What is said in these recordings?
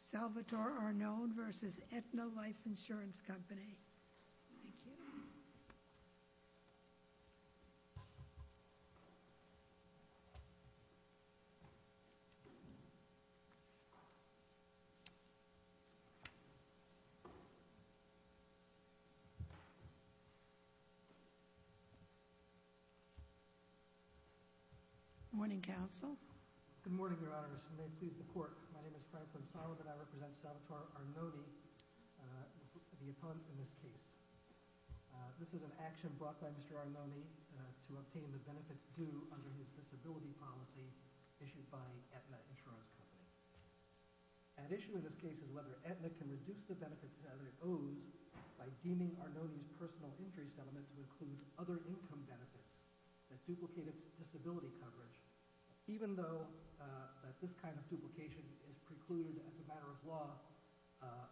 Salvatore Arnone v. Aetna Life Insurance Company. Thank you. Good morning, Council. Good morning, Your Honors. And may it please the Court, my name is Frank Linsala and I represent Salvatore Arnone, the opponent in this case. This is an action brought by Mr. Arnone to obtain the benefits due under his disability policy issued by Aetna Insurance Company. At issue in this case is whether Aetna can reduce the benefits that it owes by deeming Arnone's personal injury settlement to include other income benefits that duplicate its disability coverage, even though this kind of duplication is precluded as a matter of law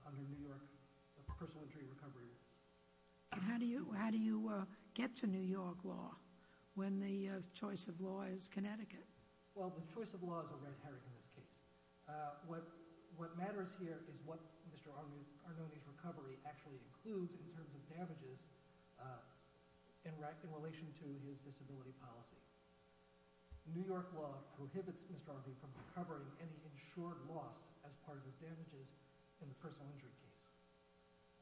under New York personal injury recovery rules. How do you get to New York law when the choice of law is Connecticut? Well, the choice of law is a red herring in this case. What matters here is what Mr. Arnone's recovery actually includes in terms of damages in relation to his disability policy. New York law prohibits Mr. Arnone from recovering any insured loss as part of his damages in the personal injury case.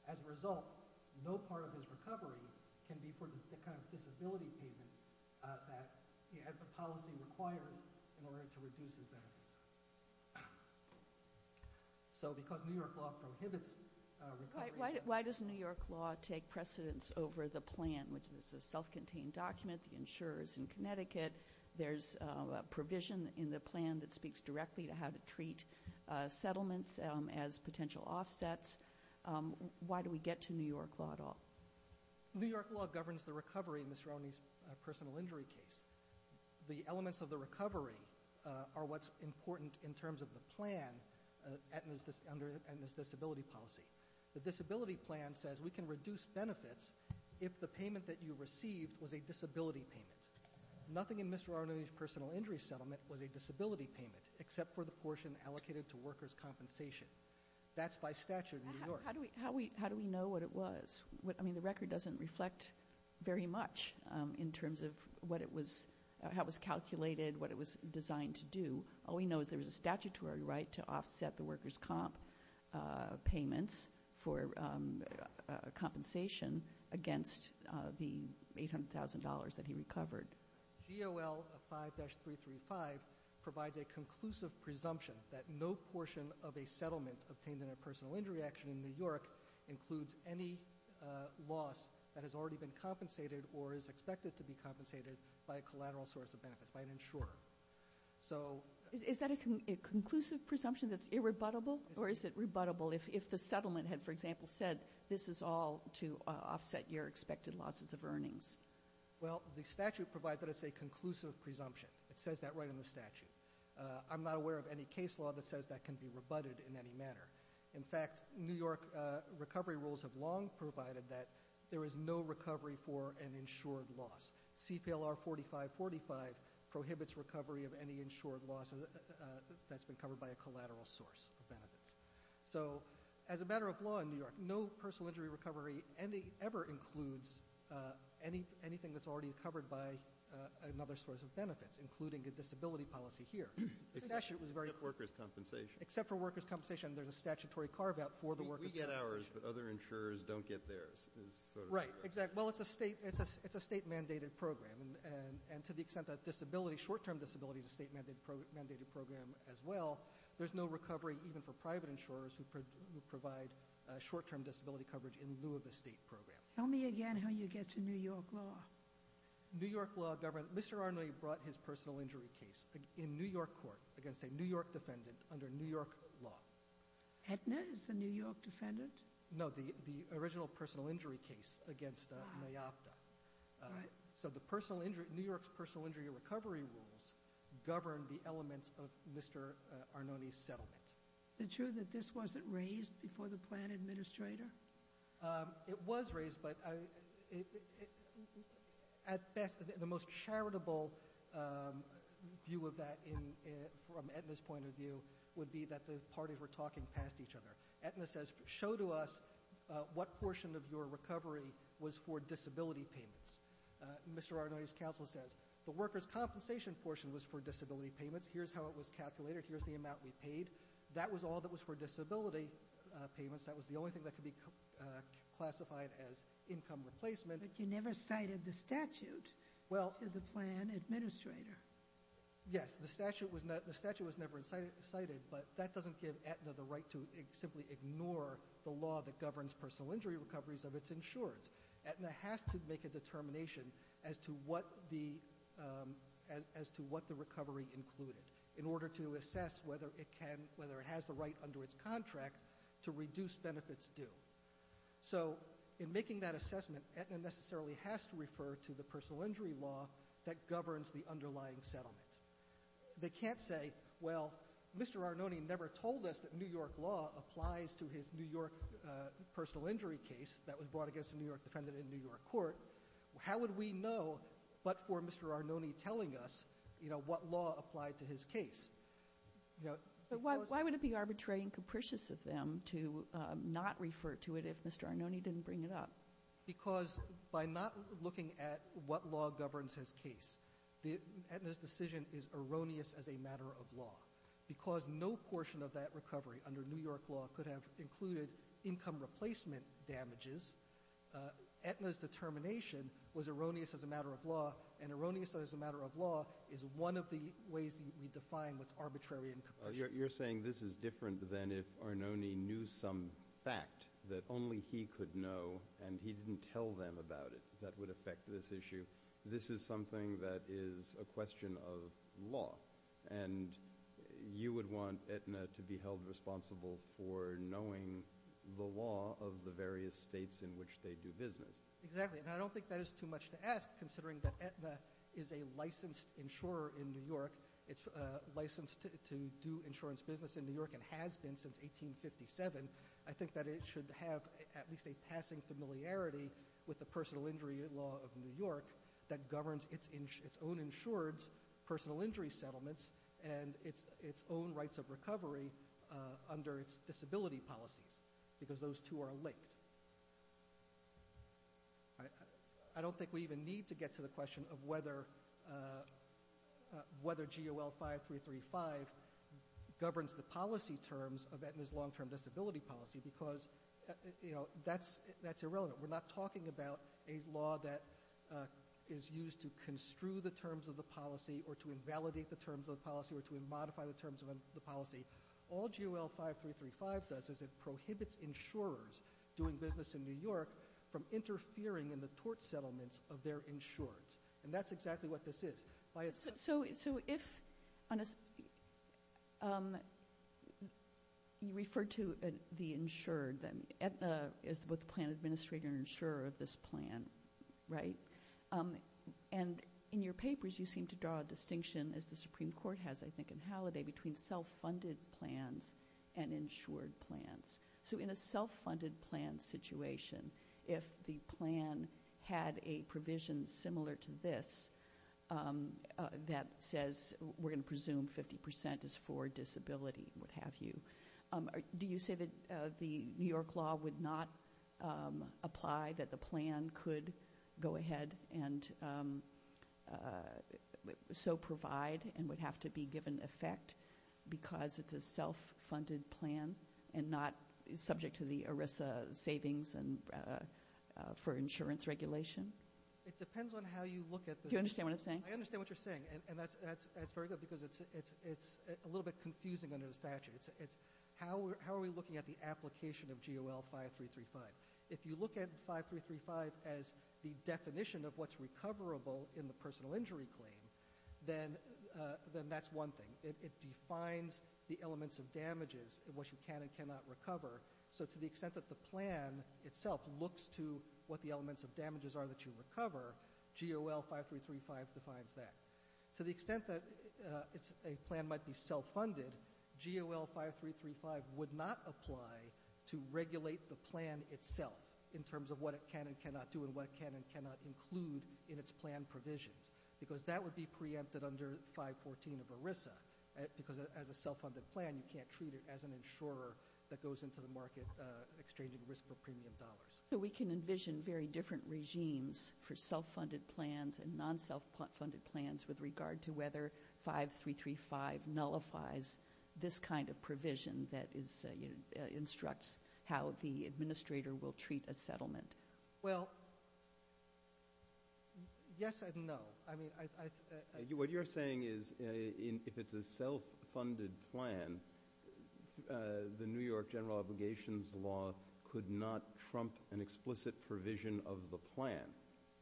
As a result, no part of his recovery can be for the kind of disability payment that the policy requires in order to reduce his benefits. So because New York law prohibits recovery... Why does New York law take precedence over the plan, which is a self-contained document? The insurer is in Connecticut. There's a provision in the plan that speaks directly to how to treat settlements as potential offsets. Why do we get to New York law at all? New York law governs the recovery in Mr. Arnone's personal injury case. The elements of the recovery are what's important in terms of the plan under Aetna's disability policy. The disability plan says we can reduce benefits if the payment that you received was a disability payment. Nothing in Mr. Arnone's personal injury settlement was a disability payment except for the portion allocated to workers' compensation. That's by statute in New York. How do we know what it was? The record doesn't reflect very much in terms of how it was calculated, what it was designed to do. All we know is there was a statutory right to offset the workers' comp payments for compensation against the $800,000 that he recovered. GOL 5-335 provides a conclusive presumption that no portion of a settlement obtained in a personal injury action in New York includes any loss that has already been compensated or is expected to be compensated by a collateral source of benefits, by an insurer. Is that a conclusive presumption that's irrebuttable? Or is it rebuttable if the settlement had, for example, said this is all to offset your expected losses of earnings? Well, the statute provides that as a conclusive presumption. It says that right in the statute. I'm not aware of any case law that says that can be rebutted in any manner. In fact, New York recovery rules have long provided that there is no recovery for an insured loss. CPLR 4545 prohibits recovery of any insured loss that's been covered by a collateral source of benefits. So as a matter of law in New York, no personal injury recovery ever includes anything that's already covered by another source of benefits, including a disability policy here. Except for workers' compensation. Except for workers' compensation. There's a statutory carve-out for the workers' compensation. We get ours, but other insurers don't get theirs. Right. Well, it's a state-mandated program. And to the extent that disability, short-term disability is a state-mandated program as well, there's no recovery even for private insurers who provide short-term disability coverage in lieu of the state program. Tell me again how you get to New York law. New York law, Mr. Arnold, he brought his personal injury case in New York court against a New York defendant under New York law. Aetna is the New York defendant? No, the original personal injury case against Mayapta. So New York's personal injury recovery rules govern the elements of Mr. Arnold's settlement. Is it true that this wasn't raised before the plan administrator? It was raised, but at best, the most charitable view of that from Aetna's point of view would be that the parties were talking past each other. Aetna says, show to us what portion of your recovery was for disability payments. Mr. Arnold's counsel says, the workers' compensation portion was for disability payments. Here's how it was calculated. Here's the amount we paid. That was all that was for disability payments. That was the only thing that could be classified as income replacement. But you never cited the statute to the plan administrator. Yes, the statute was never cited, but that doesn't give Aetna the right to simply ignore the law that governs personal injury recoveries of its insurance. Aetna has to make a determination as to what the recovery included in order to assess whether it has the right under its contract to reduce benefits due. So in making that assessment, Aetna necessarily has to refer to the personal injury law that They can't say, well, Mr. Arnone never told us that New York law applies to his New York personal injury case that was brought against a New York defendant in a New York court. How would we know but for Mr. Arnone telling us, you know, what law applied to his case? But why would it be arbitrary and capricious of them to not refer to it if Mr. Arnone didn't bring it up? Because by not looking at what law governs his case, Aetna's decision is erroneous as a matter of law. Because no portion of that recovery under New York law could have included income replacement damages, Aetna's determination was erroneous as a matter of law, and erroneous as a matter of law is one of the ways we define what's arbitrary and capricious. You're saying this is different than if Arnone knew some fact that only he could know and he didn't tell them about it that would affect this issue. This is something that is a question of law, and you would want Aetna to be held responsible for knowing the law of the various states in which they do business. Exactly, and I don't think that is too much to ask considering that Aetna is a licensed insurer in New York, it's licensed to do insurance business in New York and has been since 1857, I think that it should have at least a passing familiarity with the personal injury law of New York that governs its own insured's personal injury settlements and its own rights of recovery under its disability policies, because those two are linked. I don't think we even need to get to the question of whether GOL 5335 governs the policy terms of Aetna's long-term disability policy, because that's irrelevant. We're not talking about a law that is used to construe the terms of the policy or to invalidate the terms of the policy or to modify the terms of the policy. All GOL 5335 does is it prohibits insurers doing business in New York from interfering in the tort settlements of their insured's, and that's exactly what this is. So if you refer to the insured then, Aetna is both the plan administrator and insurer of this plan, right? And in your papers you seem to draw a distinction, as the Supreme Court has I think in Halliday, between self-funded plans and insured plans. So in a self-funded plan situation, if the plan had a provision similar to this that says we're going to presume 50% is for disability and what have you, do you say that the New York law would not apply, that the plan could go ahead and so provide and would have to be given effect because it's a self-funded plan and not subject to the ERISA savings for insurance regulation? It depends on how you look at the... Do you understand what I'm saying? I understand what you're saying, and that's very good because it's a little bit confusing under the statute. How are we looking at the application of GOL 5335? If you look at 5335 as the definition of what's recoverable in the personal injury claim, then that's one thing. It defines the elements of damages and what you can and cannot recover. So to the extent that the plan itself looks to what the elements of damages are that you recover, GOL 5335 defines that. To the extent that a plan might be self-funded, GOL 5335 would not apply to regulate the plan itself in terms of what it can and cannot do and what it can and cannot include in its plan provisions because that would be preempted under 514 of ERISA because as a self-funded plan you can't treat it as an insurer that goes into the market exchanging risk for premium dollars. So we can envision very different regimes for self-funded plans and non-self-funded plans with regard to whether 5335 nullifies this kind of provision that instructs how the administrator will treat a settlement. Well, yes and no. What you're saying is if it's a self-funded plan, the New York general obligations law could not trump an explicit provision of the plan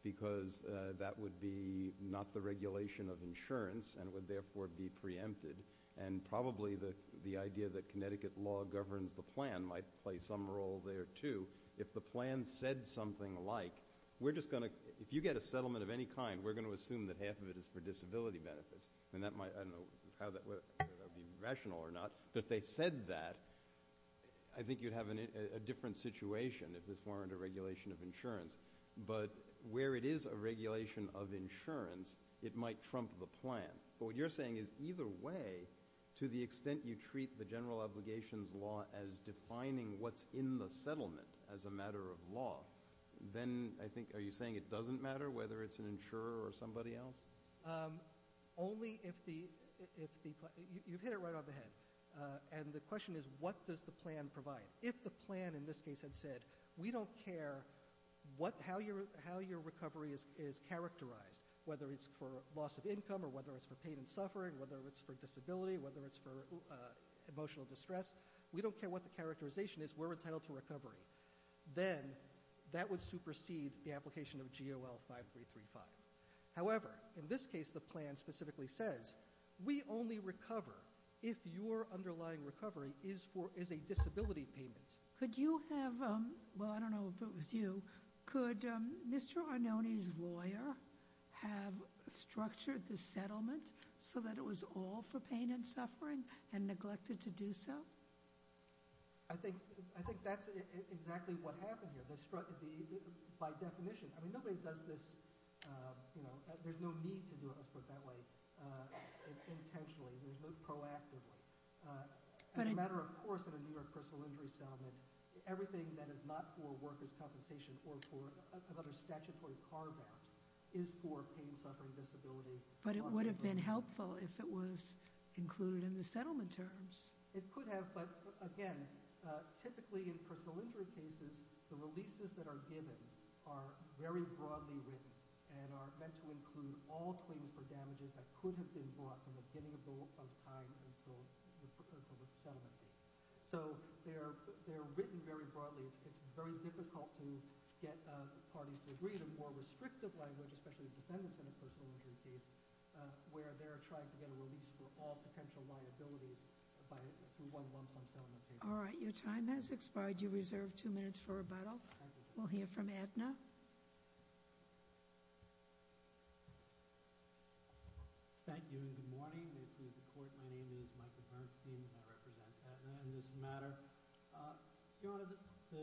because that would be not the regulation of insurance and would therefore be preempted and probably the idea that Connecticut law governs the plan might play some role there too. If the plan said something like if you get a settlement of any kind, we're going to assume that half of it is for disability benefits. I don't know whether that would be rational or not, but if they said that, I think you'd have a different situation if this weren't a regulation of insurance. But where it is a regulation of insurance, it might trump the plan. But what you're saying is either way, to the extent you treat the general obligations law as defining what's in the settlement as a matter of law, then I think are you saying it doesn't matter whether it's an insurer or somebody else? You've hit it right on the head, and the question is what does the plan provide? If the plan in this case had said we don't care how your recovery is characterized, whether it's for loss of income or whether it's for pain and suffering, whether it's for disability, whether it's for emotional distress, we don't care what the characterization is, we're entitled to recovery, then that would supersede the application of GOL 5335. However, in this case the plan specifically says we only recover if your underlying recovery is a disability payment. Could you have, well I don't know if it was you, could Mr. Arnone's lawyer have structured the settlement so that it was all for pain and suffering and neglected to do so? I think that's exactly what happened here. By definition, I mean nobody does this, you know, there's no need to do it, let's put it that way. Intentionally, there's no proactively. As a matter of course, in a New York personal injury settlement, everything that is not for workers' compensation or for another statutory carve out is for pain, suffering, disability. But it would have been helpful if it was included in the settlement terms. It could have, but again, typically in personal injury cases, the releases that are given are very broadly written and are meant to include all claims for damages that could have been brought from the beginning of time until the settlement date. So they're written very broadly. It's very difficult to get parties to agree to more restrictive language, especially defendants in a personal injury case, where they're trying to get a release for all potential liabilities through one lump sum settlement. All right, your time has expired. You reserve two minutes for rebuttal. We'll hear from Aetna. Thank you and good morning. May it please the court, my name is Michael Bernstein and I represent Aetna in this matter. Your Honor, the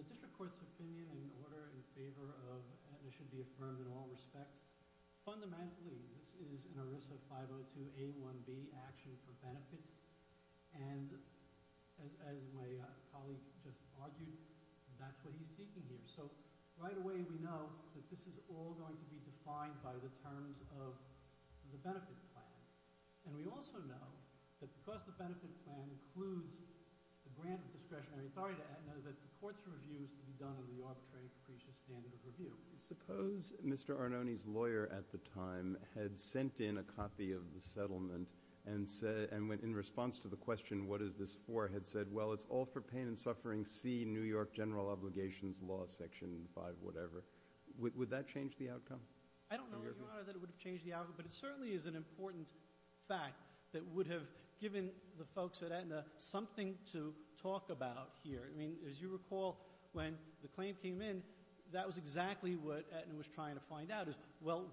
district court's opinion in order in favor of Aetna should be affirmed in all respects. Fundamentally, this is an ERISA 502A1B action for benefits. And as my colleague just argued, that's what he's seeking here. So right away we know that this is all going to be defined by the terms of the benefit plan. And we also know that because the benefit plan includes the grant of discretionary authority to Aetna, that the court's review is to be done in the arbitrary capricious standard of review. Suppose Mr. Arnone's lawyer at the time had sent in a copy of the settlement and in response to the question, what is this for, had said, well, it's all for pain and suffering, see New York General Obligations Law Section 5, whatever. Would that change the outcome? I don't know, Your Honor, that it would have changed the outcome, but it certainly is an important fact that would have given the folks at Aetna something to talk about here. I mean, as you recall, when the claim came in, that was exactly what Aetna was trying to find out is, well,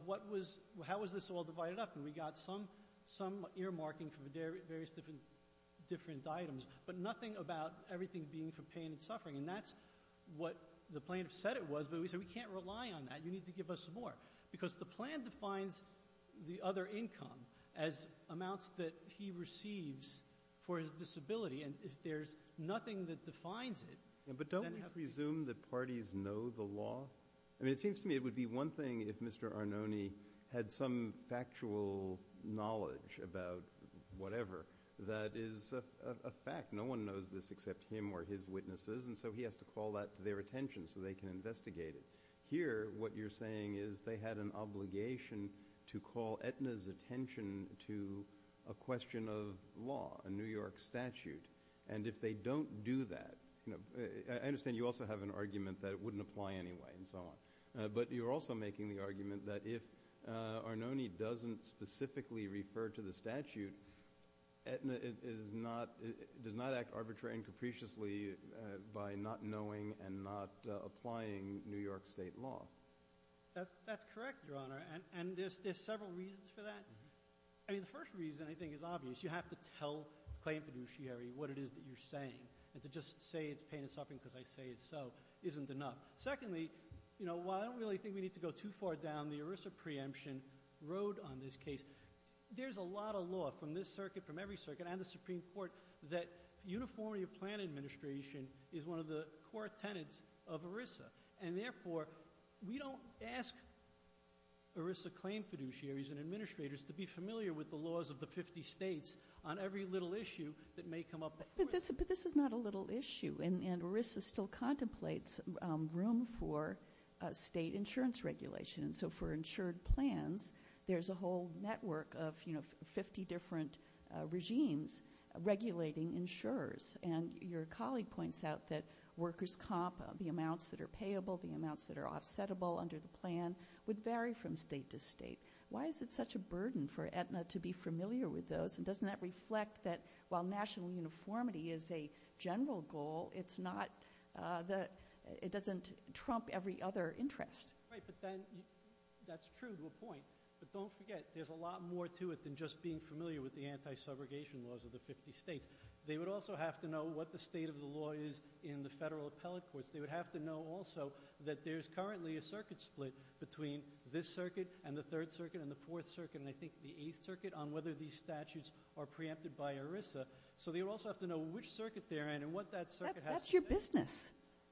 how was this all divided up? And we got some earmarking for various different items, but nothing about everything being for pain and suffering. And that's what the plaintiff said it was, but we said we can't rely on that, you need to give us more. Because the plan defines the other income as amounts that he receives for his disability. And there's nothing that defines it. But don't we presume that parties know the law? I mean, it seems to me it would be one thing if Mr. Arnone had some factual knowledge about whatever that is a fact. No one knows this except him or his witnesses, and so he has to call that to their attention so they can investigate it. Here, what you're saying is they had an obligation to call Aetna's attention to a question of law, a New York statute. And if they don't do that, I understand you also have an argument that it wouldn't apply anyway and so on. But you're also making the argument that if Arnone doesn't specifically refer to the statute, Aetna does not act arbitrarily and capriciously by not knowing and not applying New York state law. That's correct, Your Honor, and there's several reasons for that. I mean, the first reason, I think, is obvious. You have to tell the claim fiduciary what it is that you're saying. And to just say it's pain and suffering because I say it so isn't enough. Secondly, while I don't really think we need to go too far down the ERISA preemption road on this case, there's a lot of law from this circuit, from every circuit, and the Supreme Court, that uniformity of plan administration is one of the core tenets of ERISA. And therefore, we don't ask ERISA claim fiduciaries and administrators to be familiar with the laws of the 50 states on every little issue that may come up before us. But this is not a little issue, and ERISA still contemplates room for state insurance regulation. So for insured plans, there's a whole network of 50 different regimes regulating insurers. And your colleague points out that workers' comp, the amounts that are payable, the amounts that are offsettable under the plan, would vary from state to state. Why is it such a burden for Aetna to be familiar with those, and doesn't that reflect that while national uniformity is a general goal, it doesn't trump every other interest? Right, but that's true to a point. But don't forget, there's a lot more to it than just being familiar with the anti-subrogation laws of the 50 states. They would also have to know what the state of the law is in the federal appellate courts. They would have to know also that there's currently a circuit split between this circuit and the Third Circuit and the Fourth Circuit and I think the Eighth Circuit on whether these statutes are preempted by ERISA. So they would also have to know which circuit they're in and what that circuit has to say. That's your business.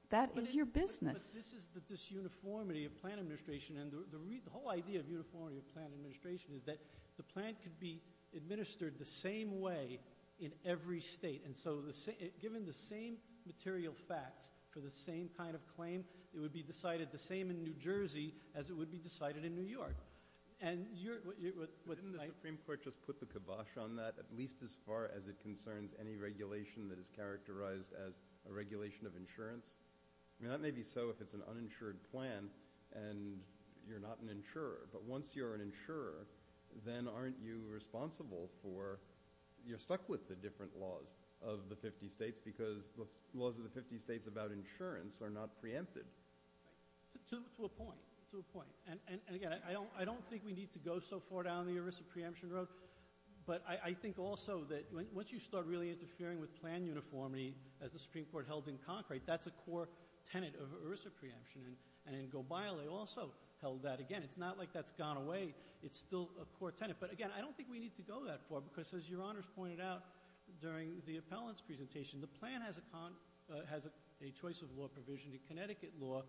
That is your business. But this uniformity of plan administration and the whole idea of uniformity of plan administration is that the plan could be administered the same way in every state. And so given the same material facts for the same kind of claim, it would be decided the same in New Jersey as it would be decided in New York. Didn't the Supreme Court just put the kibosh on that, at least as far as it concerns any regulation that is characterized as a regulation of insurance? That may be so if it's an uninsured plan and you're not an insurer. But once you're an insurer, then aren't you responsible for you're stuck with the different laws of the 50 states because the laws of the 50 states about insurance are not preempted. To a point. To a point. And again, I don't think we need to go so far down the ERISA preemption road, but I think also that once you start really interfering with plan uniformity as the Supreme Court held in Concrete, that's a core tenet of ERISA preemption. And in Gobile, they also held that. Again, it's not like that's gone away. It's still a core tenet. But again, I don't think we need to go that far because, as Your Honors pointed out during the appellant's presentation, the plan has a choice of law provision. The Connecticut law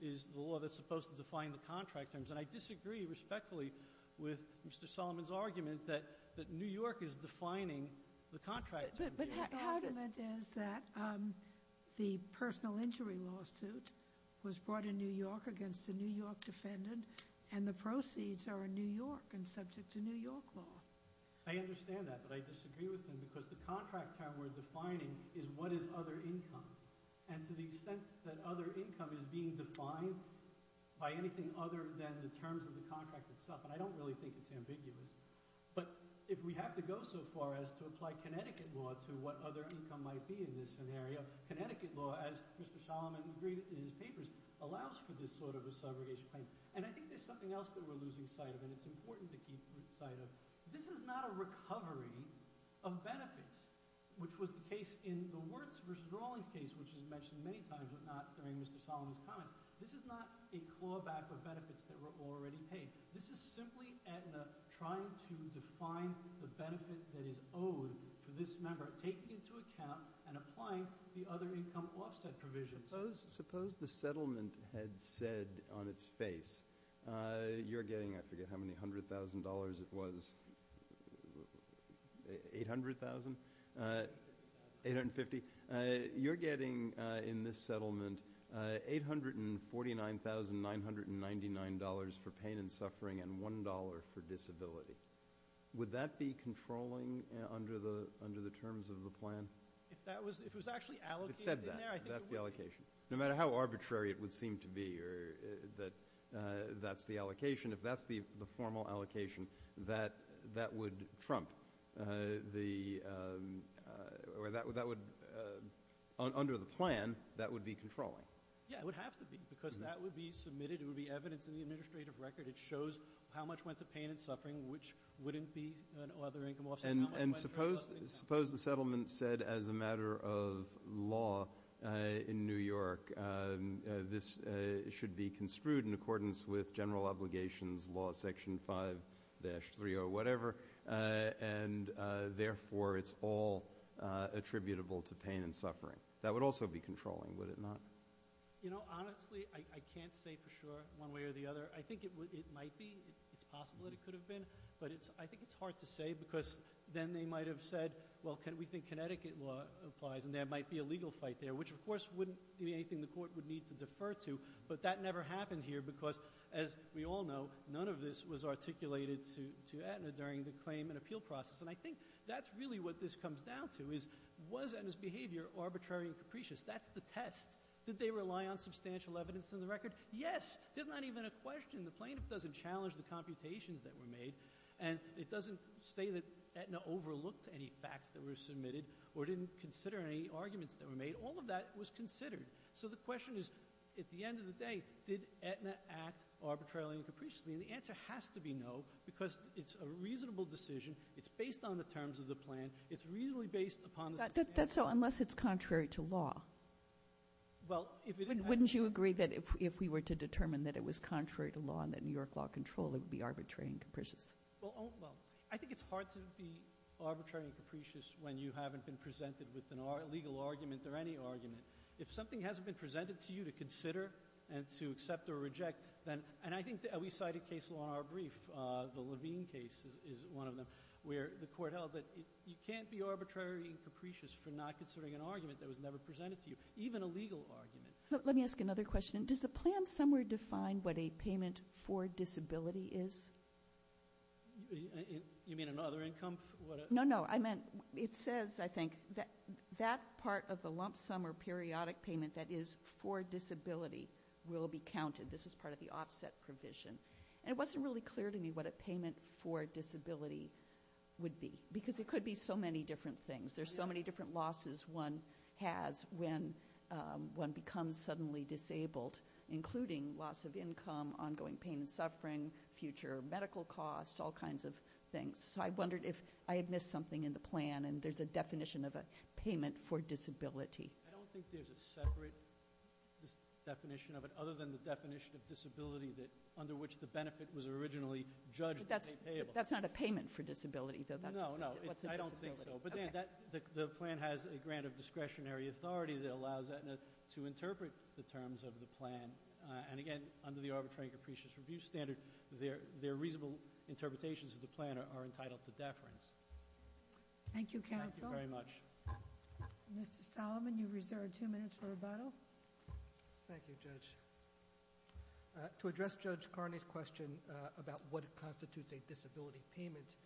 is the law that's supposed to define the contract terms. And I disagree respectfully with Mr. Solomon's argument that New York is defining the contract terms. But his argument is that the personal injury lawsuit was brought in New York against a New York defendant, and the proceeds are in New York and subject to New York law. I understand that, but I disagree with him because the contract term we're defining is what is other income. And to the extent that other income is being defined by anything other than the terms of the contract itself, and I don't really think it's ambiguous, but if we have to go so far as to apply Connecticut law to what other income might be in this scenario, Connecticut law, as Mr. Solomon agreed in his papers, allows for this sort of a subrogation claim. And I think there's something else that we're losing sight of, and it's important to keep sight of. This is not a recovery of benefits, which was the case in the Wirtz v. Rawlings case, which is mentioned many times, but not during Mr. Solomon's comments. This is not a clawback of benefits that were already paid. This is simply Aetna trying to define the benefit that is owed to this member, taking into account and applying the other income offset provisions. Suppose the settlement had said on its face you're getting, I forget how many, $100,000 it was, $800,000? $850,000. You're getting in this settlement $849,999 for pain and suffering and $1 for disability. Would that be controlling under the terms of the plan? If it was actually allocated in there, I think it would be. It said that. That's the allocation. No matter how arbitrary it would seem to be that that's the allocation, if that's the formal allocation, under the plan, that would be controlling. Yeah, it would have to be because that would be submitted. It would be evidence in the administrative record. It shows how much went to pain and suffering, which wouldn't be other income offset. Suppose the settlement said as a matter of law in New York, this should be construed in accordance with General Obligations Law Section 5-3 or whatever, and therefore it's all attributable to pain and suffering. That would also be controlling, would it not? Honestly, I can't say for sure one way or the other. I think it might be. It's possible that it could have been. But I think it's hard to say because then they might have said, well, we think Connecticut law applies and there might be a legal fight there, which of course wouldn't be anything the court would need to defer to. But that never happened here because, as we all know, none of this was articulated to Aetna during the claim and appeal process. And I think that's really what this comes down to is, was Aetna's behavior arbitrary and capricious? That's the test. Did they rely on substantial evidence in the record? Yes. There's not even a question. The plaintiff doesn't challenge the computations that were made. And it doesn't say that Aetna overlooked any facts that were submitted or didn't consider any arguments that were made. All of that was considered. So the question is, at the end of the day, did Aetna act arbitrarily and capriciously? And the answer has to be no because it's a reasonable decision. It's based on the terms of the plan. It's reasonably based upon the circumstances. Kagan. So unless it's contrary to law. Well, if it is. Wouldn't you agree that if we were to determine that it was contrary to law and that New York law controlled it would be arbitrary and capricious? Well, I think it's hard to be arbitrary and capricious when you haven't been presented with a legal argument or any argument. If something hasn't been presented to you to consider and to accept or reject, and I think we cite a case law in our brief, the Levine case is one of them, where the court held that you can't be arbitrary and capricious for not considering an argument that was never presented to you, even a legal argument. Let me ask another question. Does the plan somewhere define what a payment for disability is? You mean another income? No, no. I meant it says, I think, that that part of the lump sum or periodic payment that is for disability will be counted. This is part of the offset provision. And it wasn't really clear to me what a payment for disability would be, because it could be so many different things. There's so many different losses one has when one becomes suddenly disabled, including loss of income, ongoing pain and suffering, future medical costs, all kinds of things. So I wondered if I had missed something in the plan, and there's a definition of a payment for disability. I don't think there's a separate definition of it other than the definition of disability under which the benefit was originally judged to be payable. That's not a payment for disability, though. No, no. I don't think so. But, Dan, the plan has a grant of discretionary authority that allows Aetna to interpret the terms of the plan. And, again, under the arbitrary and capricious review standard, their reasonable interpretations of the plan are entitled to deference. Thank you, counsel. Thank you very much. Mr. Solomon, you reserve two minutes for rebuttal. Thank you, Judge. To address Judge Carney's question about what constitutes a disability payment,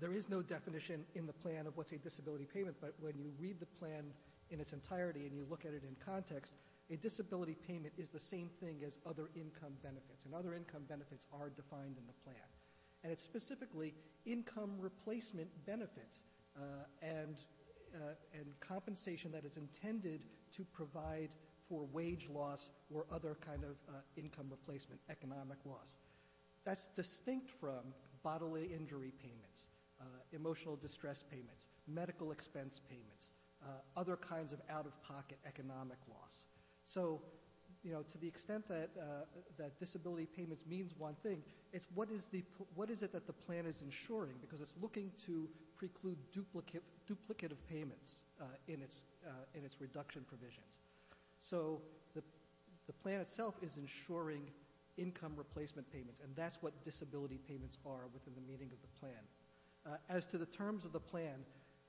there is no definition in the plan of what's a disability payment. But when you read the plan in its entirety and you look at it in context, a disability payment is the same thing as other income benefits. And other income benefits are defined in the plan. And it's specifically income replacement benefits and compensation that is intended to provide for wage loss or other kind of income replacement, economic loss. That's distinct from bodily injury payments, emotional distress payments, medical expense payments, other kinds of out-of-pocket economic loss. So, you know, to the extent that disability payments means one thing, it's what is it that the plan is insuring because it's looking to preclude duplicative payments in its reduction provisions. So the plan itself is insuring income replacement payments, and that's what disability payments are within the meaning of the plan. As to the terms of the plan,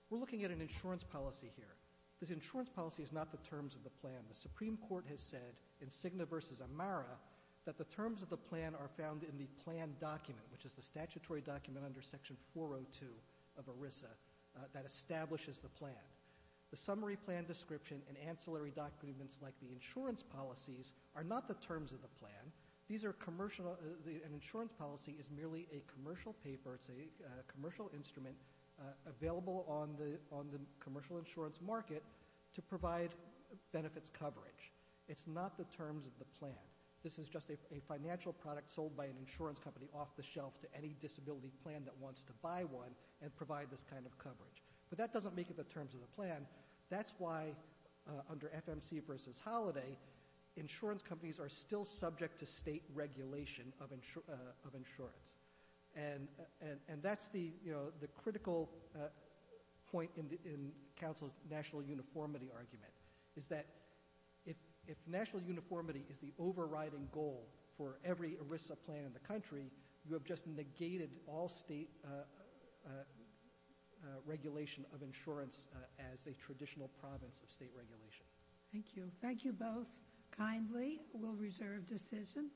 we're looking at an insurance policy here. This insurance policy is not the terms of the plan. The Supreme Court has said in Cigna v. Amara that the terms of the plan are found in the plan document, which is the statutory document under Section 402 of ERISA that establishes the plan. The summary plan description and ancillary documents like the insurance policies are not the terms of the plan. An insurance policy is merely a commercial paper, or it's a commercial instrument available on the commercial insurance market to provide benefits coverage. It's not the terms of the plan. This is just a financial product sold by an insurance company off the shelf to any disability plan that wants to buy one and provide this kind of coverage. But that doesn't make it the terms of the plan. That's why under FMC v. Holiday, insurance companies are still subject to state regulation of insurance. And that's the critical point in counsel's national uniformity argument, is that if national uniformity is the overriding goal for every ERISA plan in the country, you have just negated all state regulation of insurance as a traditional province of state regulation. Thank you. Thank you both kindly. We'll reserve decision.